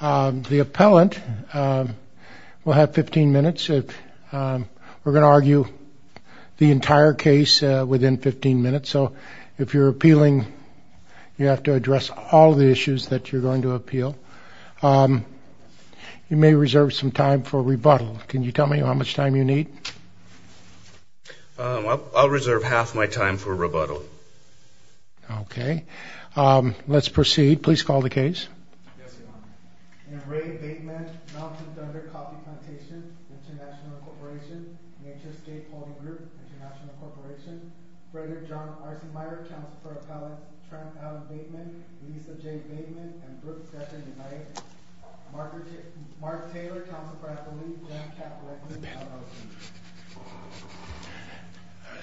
The appellant will have 15 minutes. We're going to argue the entire case within 15 minutes, so if you're appealing, you have to address all the issues that you're going to appeal. You may reserve some time for rebuttal. Can you tell me how much time you need? I'll reserve half my time for rebuttal. Okay. Let's proceed. Please call the case.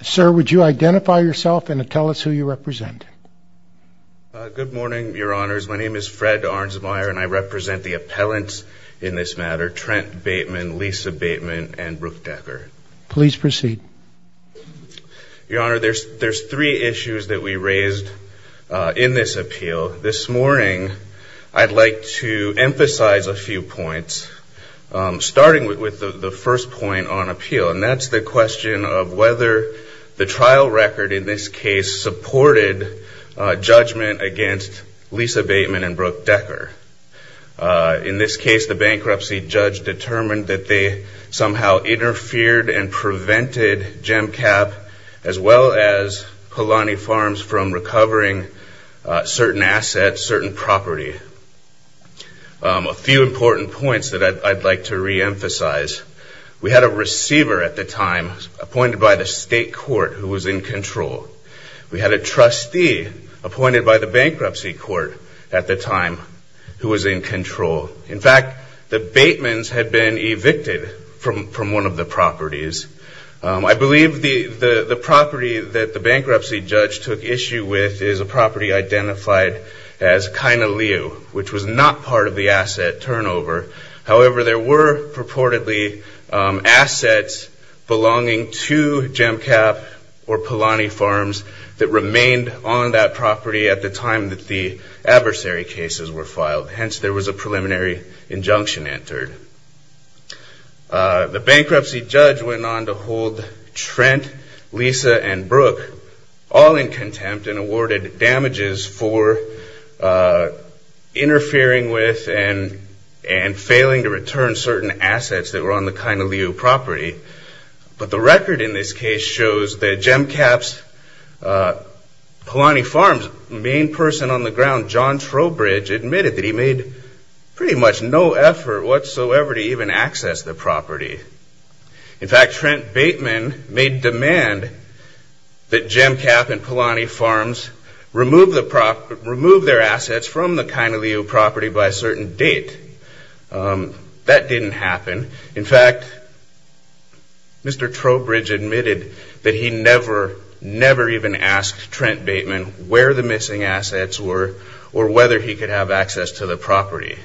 Sir, would you identify yourself and tell us who you represent? Good morning, Your Honors. My name is Fred Ahrensmeyer, and I represent the appellants in this matter, Trent Bateman, Lisa Bateman, and Brooke Decker. Please proceed. Your Honor, there's three issues that we raised in this appeal. This morning, I'd like to emphasize a few points, starting with the first point on appeal, and that's the question of whether the trial record, in this case, supported judgment against Lisa Bateman and Brooke Decker. In this case, the bankruptcy judge determined that they somehow interfered and prevented GEMCAP as well as Kalani Farms from recovering certain assets, certain property. A few important points that I'd like to reemphasize. We had a receiver at the time appointed by the state court who was in control. We had a trustee appointed by the bankruptcy court at the time who was in control. In fact, the Batemans had been evicted from one of the properties. I believe the property that the bankruptcy judge took issue with is a property identified as Kainalu, which was not part of the asset turnover. However, there were purportedly assets belonging to GEMCAP or Kalani Farms that remained on that property at the time that the adversary cases were filed. Hence, there was a preliminary injunction entered. The bankruptcy judge went on to hold Trent, Lisa, and Brooke all in contempt and awarded damages for interfering with and failing to return certain assets that were on the Kainalu property. But the record in this case shows that GEMCAP's, Kalani Farms' main person on the ground, John Trowbridge, admitted that he made pretty much no effort whatsoever to even access the property. In fact, Trent Bateman made demand that GEMCAP and Kalani Farms remove their assets from the Kainalu property by a certain date. That didn't happen. In fact, Mr. Trowbridge admitted that he never, never even asked Trent Bateman where the missing assets were or whether he could have access to the property.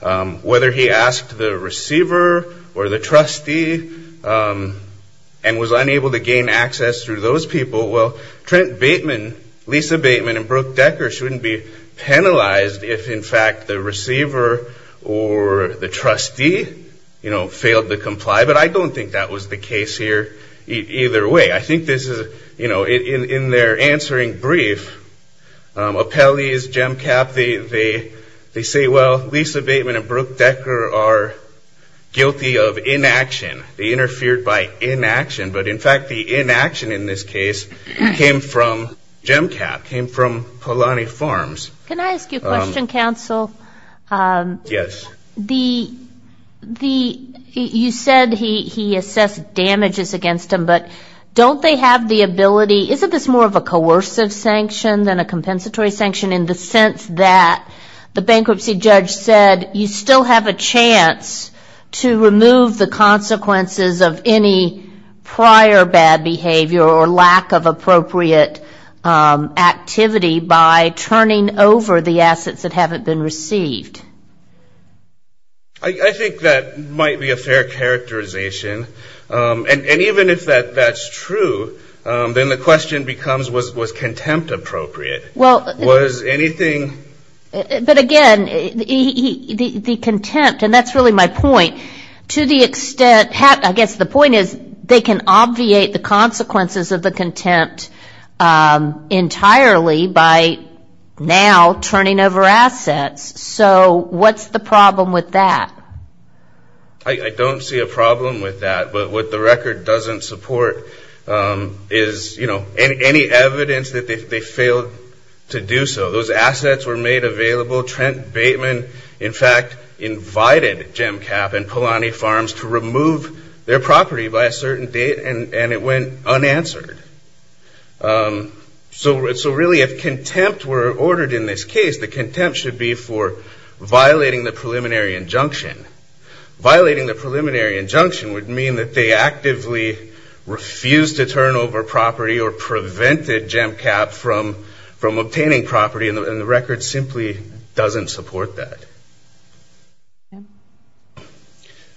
Whether he asked the receiver or the trustee and was unable to gain access through those people, well, Trent Bateman, Lisa Bateman, and Brooke Decker shouldn't be penalized if, in fact, the receiver or the trustee failed to comply. But I don't think that was the case here either way. I think this is, you know, in their answering brief, appellees, GEMCAP, they say, well, Lisa Bateman and Brooke Decker are guilty of inaction. They interfered by inaction. But, in fact, the inaction in this case came from GEMCAP, came from Kalani Farms. Can I ask you a question, counsel? Yes. The, you said he assessed damages against him, but don't they have the ability, isn't this more of a coercive sanction than a compensatory sanction in the sense that the bankruptcy judge said you still have a chance to remove the consequences of any prior bad behavior or lack of appropriate activity by turning over the assets that haven't been received? I think that might be a fair characterization. And even if that's true, then the question becomes, was contempt appropriate? Was anything... But, again, the contempt, and that's really my point, to the extent, I guess the point is they can obviate the consequences of the contempt entirely by now turning over assets. So what's the problem with that? I don't see a problem with that. But what the record doesn't support is, you know, any evidence that they failed to do so. Those assets were made available. Trent Bateman, in fact, invited GEMCAP and Polanyi Farms to remove their property by a certain date and it went unanswered. So really if contempt were ordered in this case, the contempt should be for violating the preliminary injunction. Violating the preliminary injunction would mean that they actively refused to turn over property or prevented GEMCAP from obtaining property. And the record simply doesn't support that.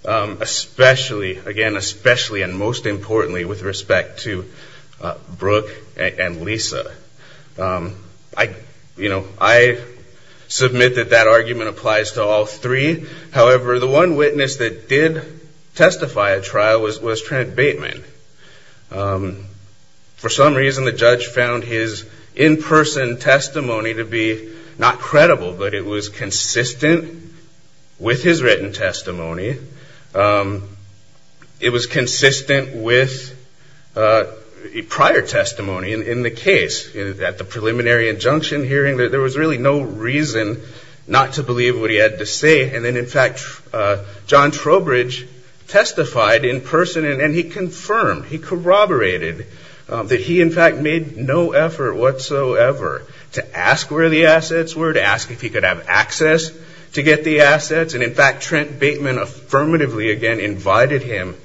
Especially, again, especially and most importantly with respect to Brooke and Lisa. You know, I submit that that argument applies to all three. However, the one witness that did testify at trial was Trent Bateman. For some reason the judge found his in-person testimony to be not credible, but it was consistent with his written testimony. It was consistent with prior testimony in the case. At the preliminary injunction hearing there was really no reason not to believe what he had to say. And then, in fact, John Trowbridge testified in person and he confirmed, he corroborated that he, in fact, made no effort whatsoever to ask where the assets were, to ask if he could have access to get the assets. And, in fact, Trent Bateman affirmatively again invited him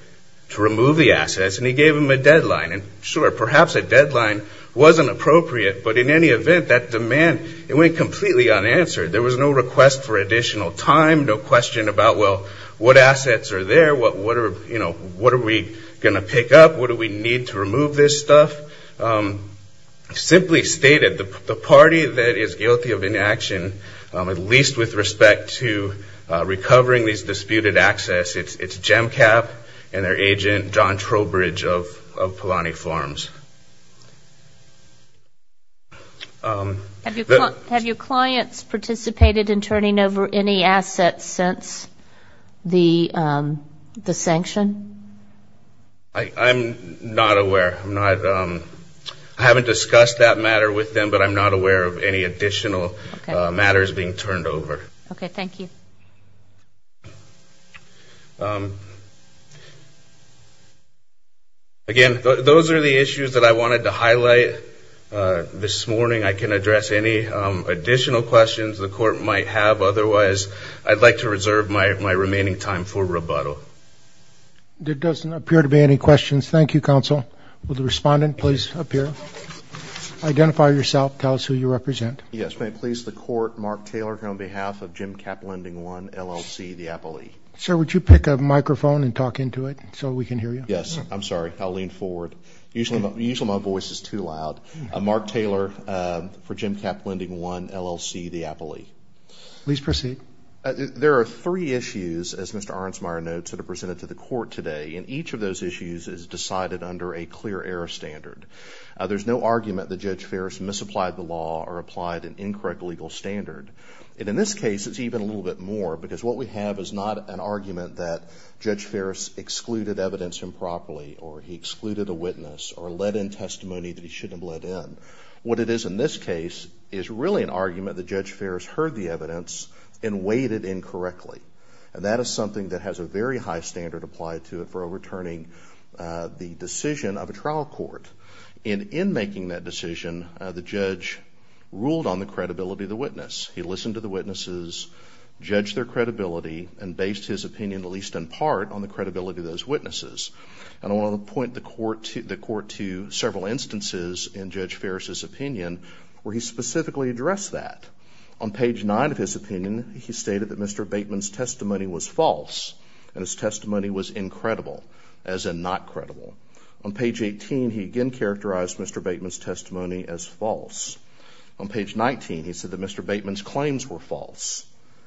to remove the assets and he gave him a deadline. And, sure, perhaps a deadline wasn't appropriate, but in any event that demand, it went completely unanswered. There was no request for additional time, no question about, well, what assets are there, what are, you know, what are we going to pick up, what do we need to remove this stuff. Simply stated, the party that is guilty of inaction, at least with respect to recovering these disputed access, it's GEMCAP and their agent, John Trowbridge of Polanyi Farms. Have your clients participated in turning over any assets since the sanction? I'm not aware. I haven't discussed that matter with them, but I'm not aware of any additional matters being turned over. Okay. Thank you. Again, those are the issues that I wanted to highlight this morning. I can address any additional questions the court might have. Otherwise, I'd like to reserve my remaining time for rebuttal. There doesn't appear to be any questions. Thank you, counsel. Will the respondent please appear? Identify yourself. Tell us who you represent. Yes, may it please the court. Mark Taylor here on behalf of GEMCAP Lending 1, LLC, the Appley. Sir, would you pick up a microphone and talk into it so we can hear you? Yes. I'm sorry. I'll lean forward. Usually my voice is too loud. I'm Mark Taylor for GEMCAP Lending 1, LLC, the Appley. Please proceed. There are three issues, as Mr. Ahrensmeyer notes, that are presented to the court today, and each of those issues is decided under a clear error standard. There's no argument that Judge Farris misapplied the law or applied an incorrect legal standard. And in this case, it's even a little bit more, because what we have is not an argument that Judge Farris excluded evidence improperly or he excluded a witness or led in testimony that he shouldn't have led in. What it is in this case is really an argument that Judge Farris heard the evidence and weighed it in correctly, and that is something that has a very high standard applied to it for overturning the decision of a trial court. And in making that decision, the judge ruled on the credibility of the witness. He listened to the witnesses, judged their credibility, and based his opinion, at least in part, on the credibility of those witnesses. And I want to point the court to several instances in Judge Farris' opinion where he specifically addressed that. On page 9 of his opinion, he stated that Mr. Bateman's testimony was false and his testimony was incredible, as in not credible. On page 18, he again characterized Mr. Bateman's testimony as false. On page 19, he said that Mr. Bateman's claims were false.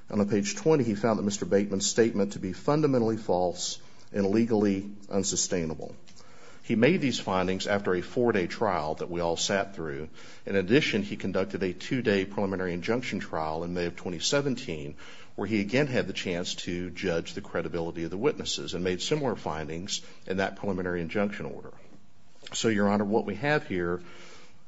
On page 20, he found that Mr. Bateman's statement to be fundamentally false and legally unsustainable. He made these findings after a four-day trial that we all sat through. In addition, he conducted a two-day preliminary injunction trial in May of 2017, where he again had the chance to judge the credibility of the witnesses and made similar findings in that preliminary injunction order. So, Your Honor, what we have here,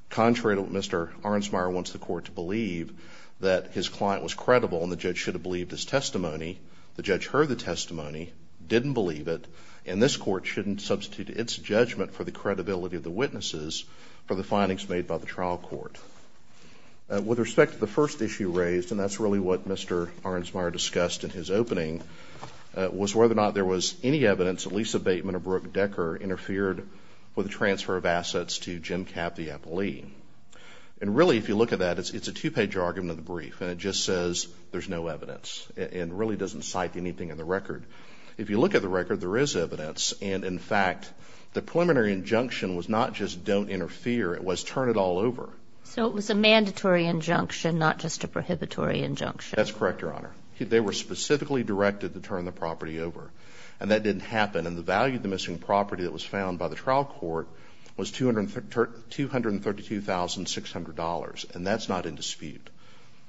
contrary to what Mr. Ahrensmeyer wants the court to believe, that his client was credible and the judge should have believed his testimony, the judge heard the testimony, didn't believe it, and this court shouldn't substitute its judgment for the credibility of the witnesses for the findings made by the trial court. With respect to the first issue raised, and that's really what Mr. Ahrensmeyer discussed in his opening, was whether or not there was any evidence that Lisa Bateman or Brooke Decker interfered with the transfer of assets to Jim Capp, the appellee. And really, if you look at that, it's a two-page argument of the brief, and it just says there's no evidence and really doesn't cite anything in the record. If you look at the record, there is evidence, and in fact, the preliminary injunction was not just don't interfere, it was turn it all over. So it was a mandatory injunction, not just a prohibitory injunction. That's correct, Your Honor. They were specifically directed to turn the property over. And that didn't happen, and the value of the missing property that was found by the trial court was $232,600, and that's not in dispute.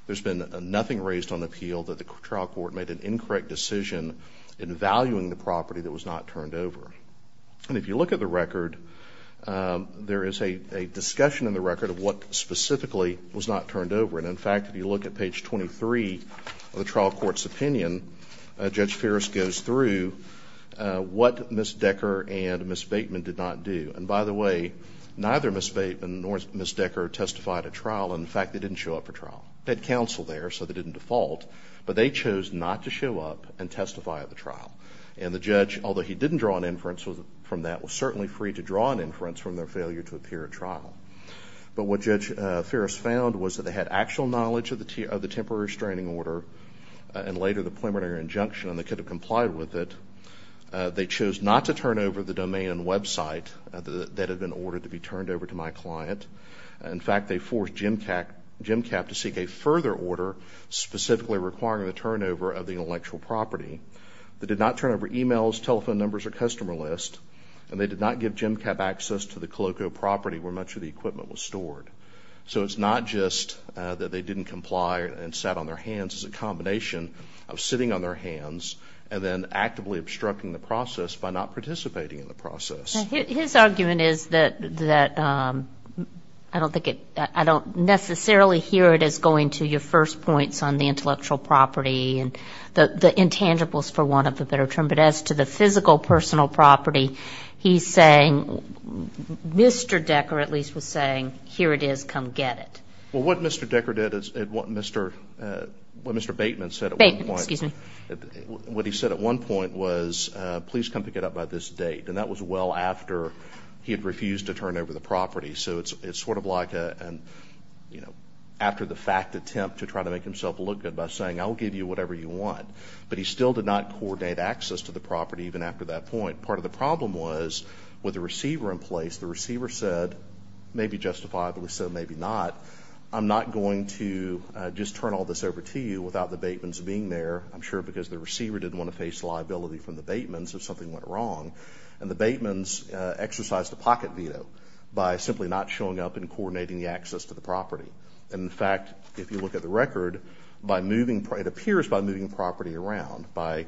There's been nothing raised on appeal that the trial court made an incorrect decision in valuing the property that was not turned over. And if you look at the record, there is a discussion in the record of what specifically was not turned over, and in fact, if you look at page 23 of the trial court's opinion, Judge Ferris goes through what Ms. Decker and Ms. Bateman did not do. And by the way, neither Ms. Bateman nor Ms. Decker testified at trial, and in fact, they didn't show up for trial. They had counsel there, so they didn't default, but they chose not to show up and testify at the trial. And the judge, although he didn't draw an inference from that, was certainly free to draw an inference from their failure to appear at trial. But what Judge Ferris found was that they had actual knowledge of the temporary restraining order, and later the preliminary injunction, and they could have complied with it. They chose not to turn over the domain and website that had been ordered to be turned over to my client. In fact, they forced GEMCAP to seek a further order specifically requiring the turnover of the intellectual property. They did not turn over emails, telephone numbers, or customer lists, and they did not give GEMCAP access to the Coloco property where much of the equipment was stored. So it's not just that they didn't comply and sat on their hands. It's a combination of sitting on their hands and then actively obstructing the process by not participating in the process. His argument is that I don't necessarily hear it as going to your first points on the intellectual property and the intangibles, for want of a better term. But as to the physical personal property, he's saying, Mr. Decker at least was saying, here it is, come get it. What Mr. Bateman said at one point was, please come pick it up by this date. And that was well after he had refused to turn over the property. So it's sort of like after the fact attempt to try to make himself look good by saying, I'll give you whatever you want. But he still did not coordinate access to the property even after that point. Part of the problem was with the receiver in place. The receiver said, maybe justifiably so, maybe not. I'm not going to just turn all this over to you without the Batemans being there. I'm sure because the receiver didn't want to face liability from the Batemans if something went wrong. And the Batemans exercised a pocket veto by simply not showing up and coordinating the access to the property. In fact, if you look at the record, it appears by moving property around, by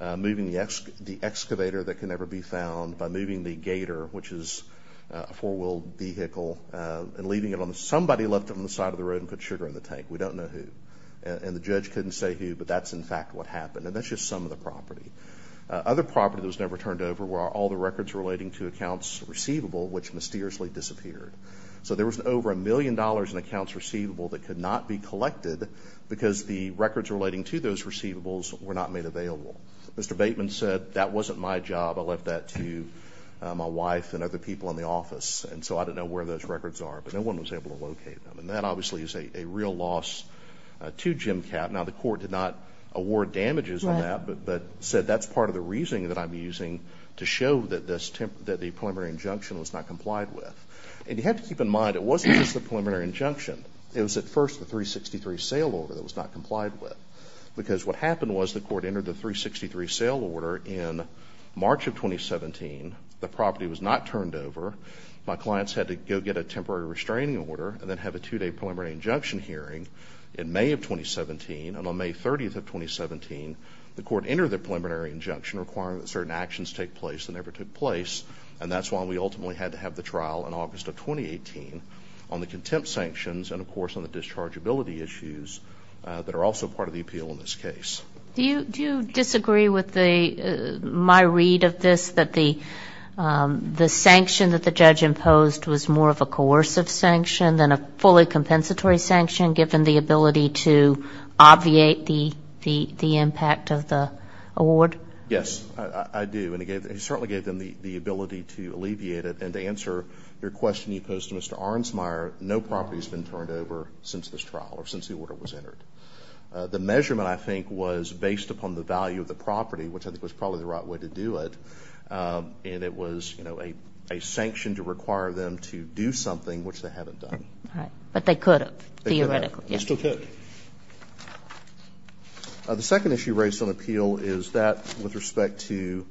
moving the excavator that can never be found, by moving the gator, which is a four-wheeled vehicle, and leaving it on somebody left it on the side of the road and put sugar in the tank. We don't know who. And the judge couldn't say who, but that's in fact what happened. And that's just some of the property. Other property that was never turned over were all the records relating to accounts receivable, which mysteriously disappeared. So there was over a million dollars in accounts receivable that could not be collected because the records relating to those receivables were not made available. Mr. Bateman said, that wasn't my job. I left that to my wife and other people in the office. And so I don't know where those records are, but no one was able to locate them. And that obviously is a real loss to Jim Kapp. Now, the court did not award damages on that, but said that's part of the reasoning that I'm using to show that the preliminary injunction was not complied with. And you have to keep in mind, it wasn't just the preliminary injunction. It was at first the 363 sale order that was not complied with. Because what happened was the court entered the 363 sale order in March of 2017. The property was not turned over. My clients had to go get a temporary restraining order and then have a two-day preliminary injunction hearing in May of 2017. And on May 30th of 2017, the court entered the preliminary injunction requiring that certain actions take place that never took place. And that's why we ultimately had to have the trial in August of 2018 on the contempt sanctions and, of course, on the dischargeability issues that are also part of the appeal in this case. Do you disagree with my read of this, that the sanction that the judge imposed was more of a coercive sanction than a fully compensatory sanction, given the ability to I do. And it certainly gave them the ability to alleviate it. And to answer your question you posed to Mr. Ahrensmeyer, no property has been turned over since this trial or since the order was entered. The measurement, I think, was based upon the value of the property, which I think was probably the right way to do it. And it was, you know, a sanction to require them to do something which they haven't done. But they could have, theoretically. The second issue raised on appeal is that with respect to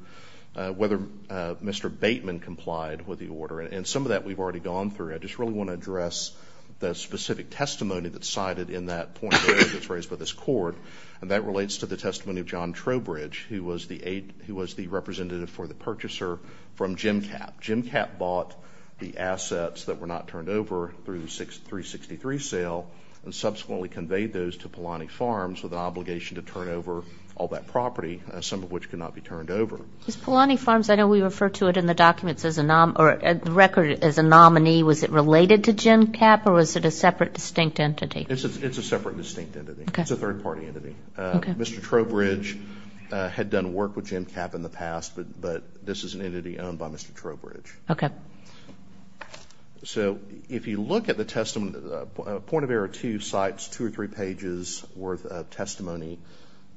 whether Mr. Bateman complied with the order. And some of that we've already gone through. I just really want to address the specific testimony that's cited in that point of order that's raised by this court. And that relates to the testimony of John Trowbridge, who was the representative for the purchaser from GEMCAP. GEMCAP bought the assets that were not turned over through the 363 sale and subsequently conveyed those to Polanyi Farms with an obligation to turn over all that property, some of which could not be turned over. Polanyi Farms, I know we refer to it in the documents as a record as a nominee. Was it related to GEMCAP or was it a separate distinct entity? It's a separate distinct entity. It's a third party entity. Mr. Trowbridge had done work with GEMCAP in the past, but this is an entity owned by Mr. Trowbridge. So if you look at the testimony, point of error two cites two or three pages worth of testimony,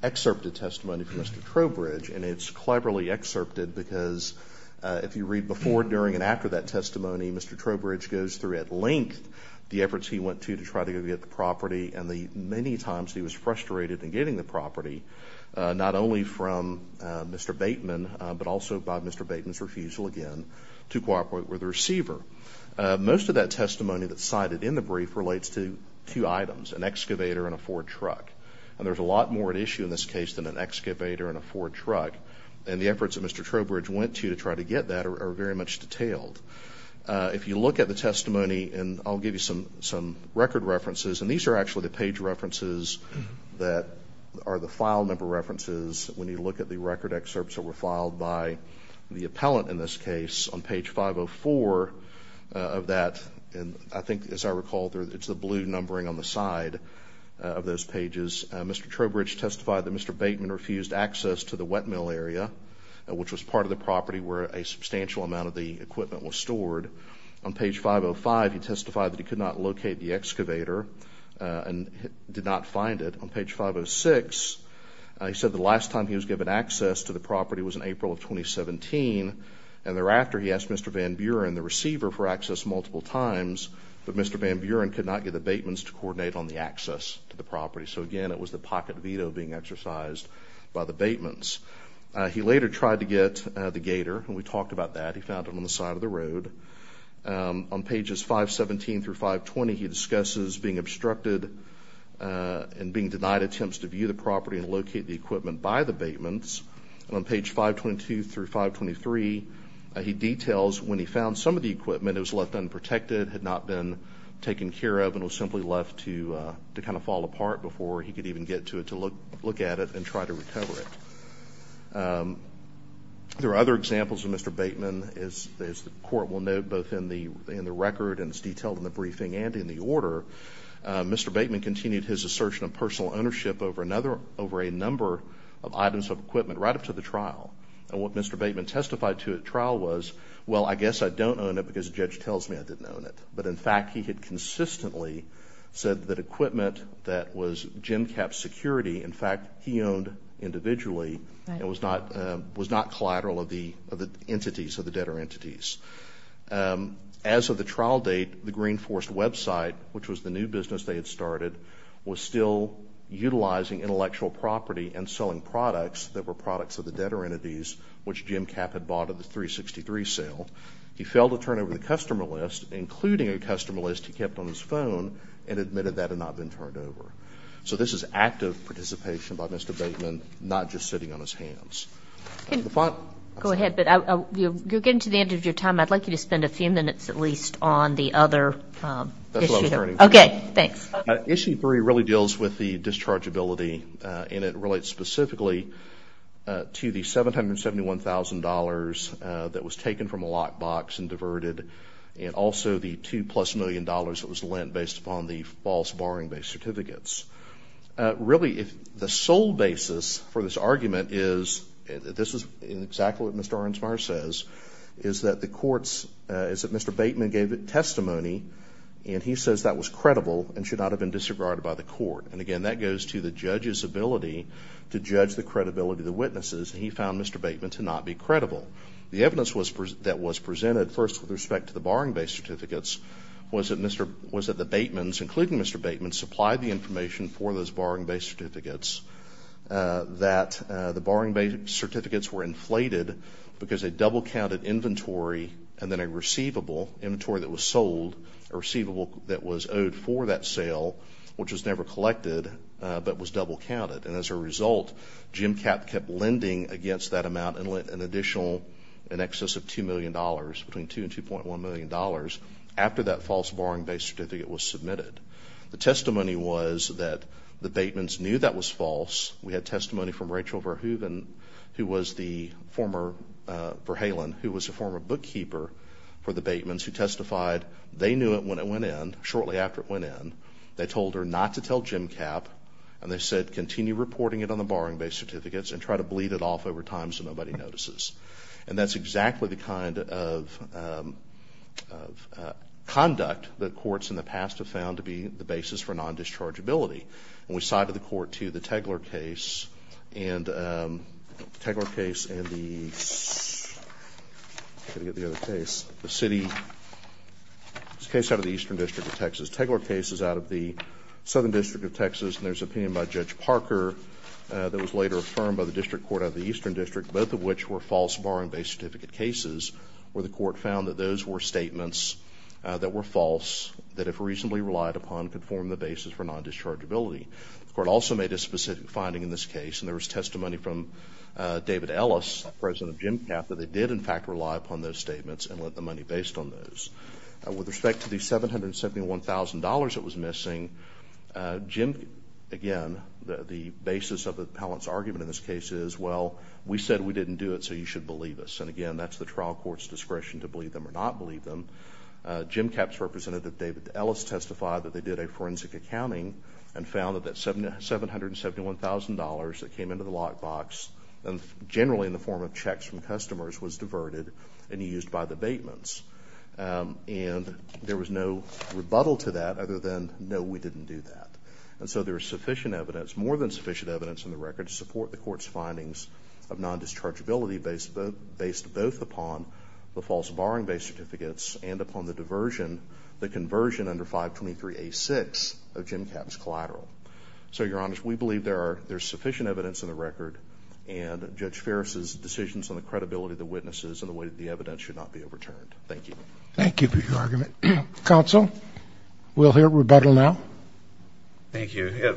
excerpted testimony from Mr. Trowbridge. And it's cleverly excerpted because if you read before, during, and after that testimony, Mr. Trowbridge goes through at length the efforts he went to to try to get the property and the many times he was frustrated in getting the property, not only from Mr. Bateman, but also by Mr. Bateman's refusal again to cooperate with the receiver. Most of that testimony that's cited in the brief relates to two items, an excavator and a Ford truck. And there's a lot more at issue in this case than an excavator and a Ford truck. And the efforts that Mr. Trowbridge went to to try to get that are very much detailed. If you look at the testimony, and I'll give you some record references. And these are actually the page references that are the file number references when you look at the record excerpts that were filed by the appellant in this case on page 504 of that. And I think as I recall, it's the blue numbering on the side of those pages. Mr. Trowbridge testified that Mr. Bateman refused access to the wet mill area, which was part of the property where a substantial amount of the equipment was stored. On page 505, he testified that he could not locate the excavator and did not find it. On page 506, he said the last time he was given access to the property was in April of 2017. And thereafter, he asked Mr. Van Buren, the receiver, for access multiple times, but Mr. Van Buren could not get the Batemans to coordinate on the access to the property. So again, it was the pocket veto being exercised by the Batemans. He later tried to get the gator, and we talked about that. He found it on the side of the road. On pages 517 through 520, he discusses being obstructed and being denied attempts to view the property and locate the equipment by the Batemans. And on page 522 through 523, he details when he found some of the equipment, it was left unprotected, had not been taken care of, and was simply left to kind of fall apart before he could even get to it to look at it and try to recover it. There are other examples of Mr. Bateman, as the Court will note, both in the record and it's detailed in the briefing and in the order. Mr. Bateman continued his assertion of personal ownership over a number of items of equipment right up to the trial. And what Mr. Bateman testified to at trial was, well, I guess I don't own it because the judge tells me I didn't own it. But in fact, he had consistently said that equipment that was GENCAP security, in fact, he owned individually and was not collateral of the entities, of the debtor entities. As of the trial date, the Green Forest website, which was the new business they had started, was still utilizing intellectual property and selling products that were products of the debtor entities, which GENCAP had bought at the 363 sale. He failed to turn over the customer list, including a customer list he kept on his phone and admitted that had not been turned over. So this is active participation by Mr. Bateman, not just sitting on his hands. Go ahead, but you're getting to the end of your time. I'd like you to spend a few minutes at least on the other issue. Okay, thanks. Issue three really deals with the dischargeability and it relates specifically to the $771,000 that was taken from a lockbox and diverted and also the two plus million dollars that was lent based upon the false borrowing-based certificates. Really, the sole basis for this argument is, this is exactly what Mr. Ahrensmeyer says, is that the courts, is that Mr. Bateman gave a testimony and he says that was credible and should not have been disregarded by the court. And again, that goes to the judge's ability to judge the credibility of the witnesses and he found Mr. Bateman to not be credible. The evidence that was presented first with respect to the participation for those borrowing-based certificates, that the borrowing-based certificates were inflated because they double-counted inventory and then a receivable, inventory that was sold, a receivable that was owed for that sale, which was never collected, but was double-counted. And as a result, Jim Kapp kept lending against that amount and lent an additional, in excess of $2 million, between $2 and $2.1 million after that false borrowing-based certificate was submitted. The testimony was that the Batemans knew that was false. We had testimony from Rachel Verhoeven, who was the former, Verhalen, who was the former bookkeeper for the Batemans, who testified they knew it when it went in, shortly after it went in. They told her not to tell Jim Kapp and they said continue reporting it on the borrowing-based certificates and try to bleed it off over time so nobody notices. And that's exactly the kind of conduct that courts in the past have found to be the basis for non-dischargeability. And we cited the court to the Tegeler case and the city case out of the Eastern District of Texas. Tegeler case is out of the Southern District of Texas and there's an opinion by Judge Parker that was later affirmed by the District Court out of the Eastern District, both of which were false borrowing-based certificate cases, where the court found that those were statements that were false that, if reasonably relied upon, could form the basis for non-dischargeability. The court also made a specific finding in this case and there was testimony from David Ellis, president of Jim Kapp, that they did, in fact, rely upon those statements and lent the money based on those. With respect to the $771,000 that was missing, again, the basis of the appellant's argument in this case is, well, we said we didn't do it so you should believe us. And again, that's the trial court's discretion to believe them or not believe them. Jim Kapp's representative, David Ellis, testified that they did a forensic accounting and found that that $771,000 that came into the lockbox, generally in the form of checks from customers, was diverted and used by debatements. And there was no rebuttal to that other than, no, we didn't do that. And so there is sufficient evidence, more than sufficient evidence, in the record to support the court's findings of non-dischargeability based both upon the false borrowing-based certificates and upon the diversion, the conversion under 523A6 of Jim Kapp's collateral. So, Your Honor, we believe there is sufficient evidence in the record and Judge Ferris's decisions on the credibility of the witnesses and the way that the evidence should not be overturned. Thank you. Thank you for your argument. Counsel, we'll hear rebuttal now. Thank you.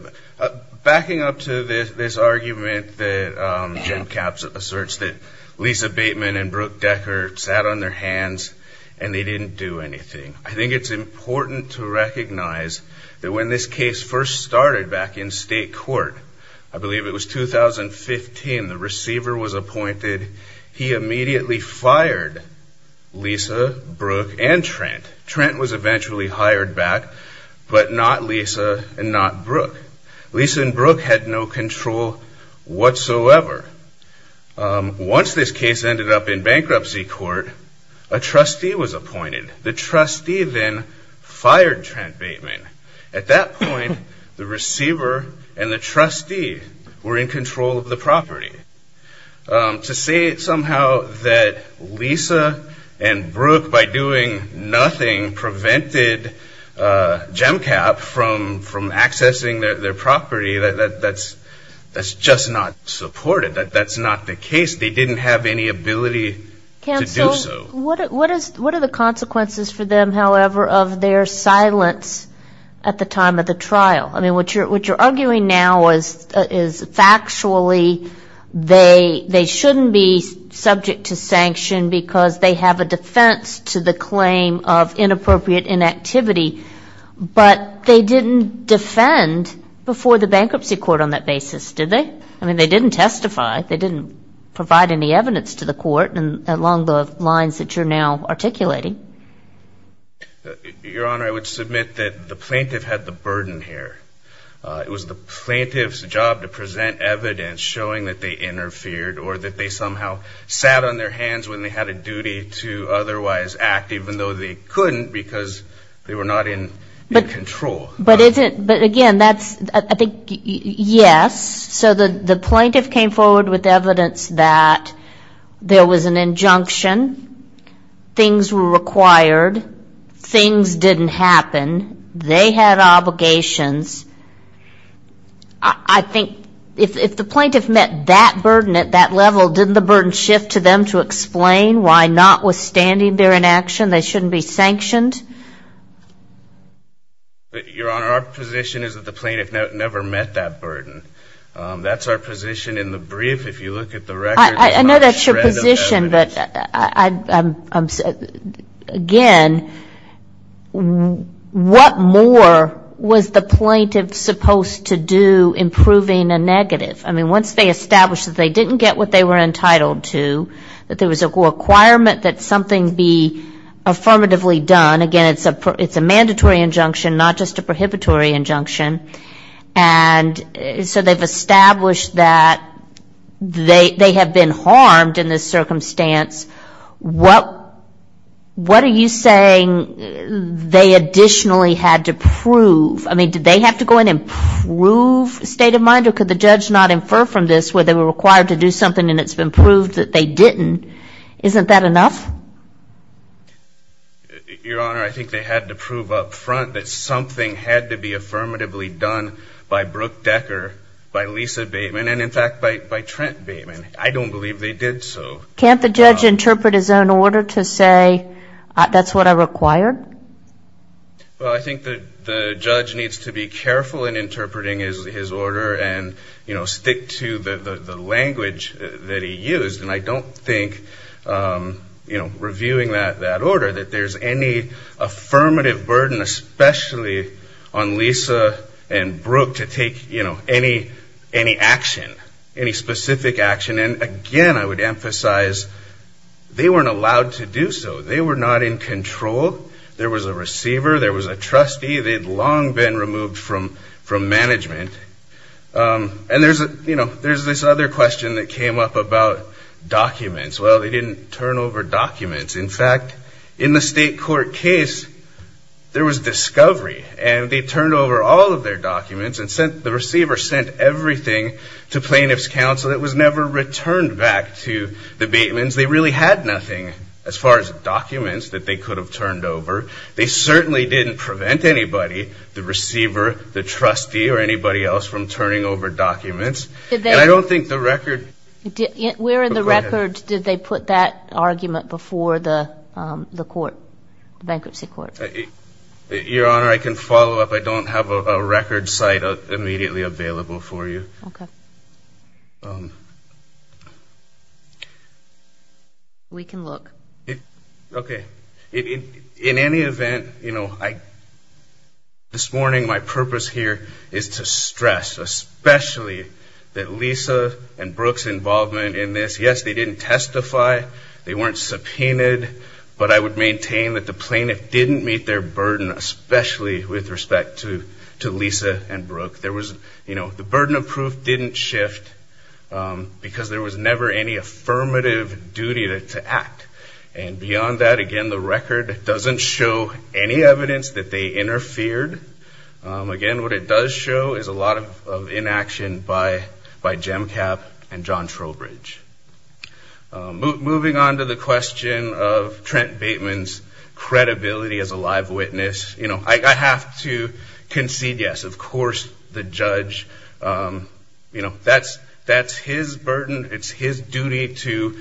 Backing up to this argument that Jim Kapp asserts that Lisa Bateman and Brooke Deckert sat on their hands and they didn't do anything, I think it's important to recognize that when this case first started back in state court, I believe it was 2015, the receiver was appointed. He immediately fired Lisa, Brooke, and Trent. Trent was eventually hired back, but not Lisa and not Brooke. Lisa and Brooke had no control whatsoever. Once this case ended up in bankruptcy court, a trustee was appointed. The trustee then fired Trent Bateman. At that point, the receiver and the trustee were in control of the property. To say somehow that Lisa and Brooke, by doing nothing, prevented Jim Kapp from accessing their property, that's just not supported. That's not the case. They didn't have any ability to do so. What are the consequences for them, however, of their silence at the time of the trial? I mean, what you're arguing now is factually they shouldn't be subject to sanction because they have a defense to the claim of inappropriate inactivity, but they didn't defend before the bankruptcy court on that basis, did they? I mean, they didn't testify. They didn't provide any evidence to the court along the lines that you're now articulating. Your Honor, I would submit that the plaintiff had the burden here. It was the plaintiff's job to present evidence showing that they interfered or that they somehow sat on their hands when they had a duty to otherwise act, even though they couldn't because they were not in control. But again, that's, I think, yes. So the plaintiff came forward with evidence that there was an injunction, things were required, things didn't happen, they had obligations. I think if the plaintiff met that burden at that level, didn't the burden shift to them to explain why notwithstanding their inaction they shouldn't be sanctioned? Your Honor, our position is that the plaintiff never met that burden. That's our position in the brief. I know that's your position, but again, what more was the plaintiff supposed to do in proving a negative? I mean, once they established that they didn't get what they were entitled to, that there was a requirement that something be affirmatively done. Again, it's a mandatory injunction, not just a prohibitory injunction. And so they've established that they have been harmed in this circumstance. What are you saying they additionally had to prove? I mean, did they have to go in and prove state of mind, or could the judge not infer from this where they were required to do something and it's been proved that they didn't? Isn't that enough? Your Honor, I think they had to prove up front that something had to be affirmatively done by Brooke Decker, by Lisa Bateman, and in fact by Trent Bateman. I don't believe they did so. Can't the judge interpret his own order to say that's what I required? Well, I think the judge needs to be careful in interpreting his order and stick to the language that he used. And I don't think reviewing that order that there's any affirmative burden, especially on Lisa and Brooke to take any action, any specific action. And again, I would emphasize they weren't allowed to do so. They were not in control. There was a receiver. There was a trustee. They had long been removed from management. And there's this other question that came up about documents. Well, they didn't turn over documents. In fact, in the state court case, there was discovery, and they turned over all of their documents and the receiver sent everything to plaintiff's counsel. It was never returned back to the Batemans. They really had nothing as far as documents that they could have turned over. They certainly didn't prevent anybody, the receiver, the trustee, or anybody else from turning over documents. And I don't think the record... Where in the record did they put that argument before the court, the bankruptcy court? Your Honor, I can follow up. I don't have a record site immediately available for you. We can look. Okay. In any event, this morning my purpose here is to stress especially that Lisa and Brooke's involvement in this, yes, they didn't testify. They weren't subpoenaed. But I would maintain that the plaintiff didn't meet their burden, especially with respect to Lisa and Brooke. The burden of proof didn't shift because there was never any affirmative duty to act. And beyond that, again, the record doesn't show any evidence that they interfered. Again, what it does show is a lot of inaction by Jemcap and John Trowbridge. Moving on to the question of Trent Bateman's credibility as a live witness, I have to concede, yes, of course the judge, that's his burden. It's his duty to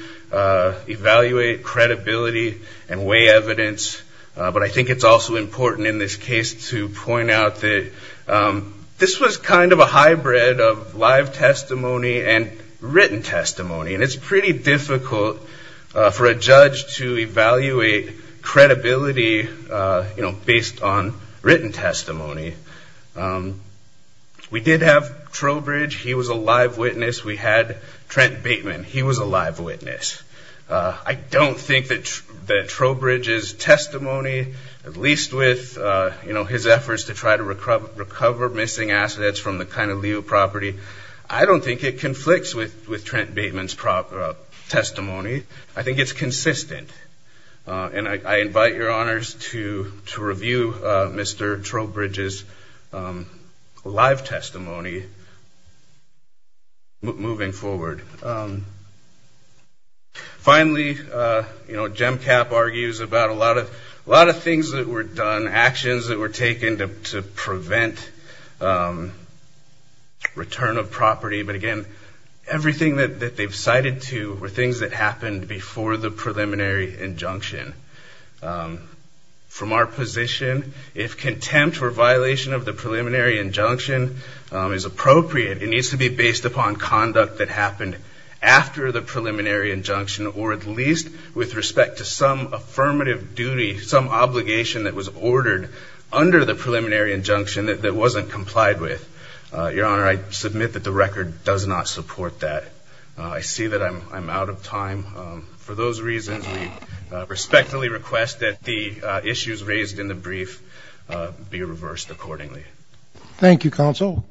evaluate credibility and weigh evidence. But I think it's also important in this case to point out that this was kind of a hybrid of live testimony and written testimony. And it's pretty difficult for a judge to evaluate credibility based on written testimony. We did have Trowbridge. He was a live witness. We had Trent Bateman. He was a live witness. I don't think that Trowbridge's testimony, at least with his efforts to try to recover missing assets from the Kind of Leo property, I don't think it conflicts with Trent Bateman's testimony. I think it's consistent. And I invite your honors to review Mr. Trowbridge's live testimony moving forward. Finally, Jemcap argues about a lot of things that were done, actions that were taken to prevent return of property. But again, everything that they've cited to were things that happened before the preliminary injunction. From our position, if contempt or violation of the preliminary injunction is appropriate, it needs to be based upon conduct that happened after the preliminary injunction or at least with respect to some affirmative duty, some obligation that was ordered under the preliminary injunction that wasn't complied with. Your honor, I submit that the record does not support that. I see that I'm out of time. For those reasons, we respectfully request that the issues raised in the brief be reversed accordingly. Thank you, counsel.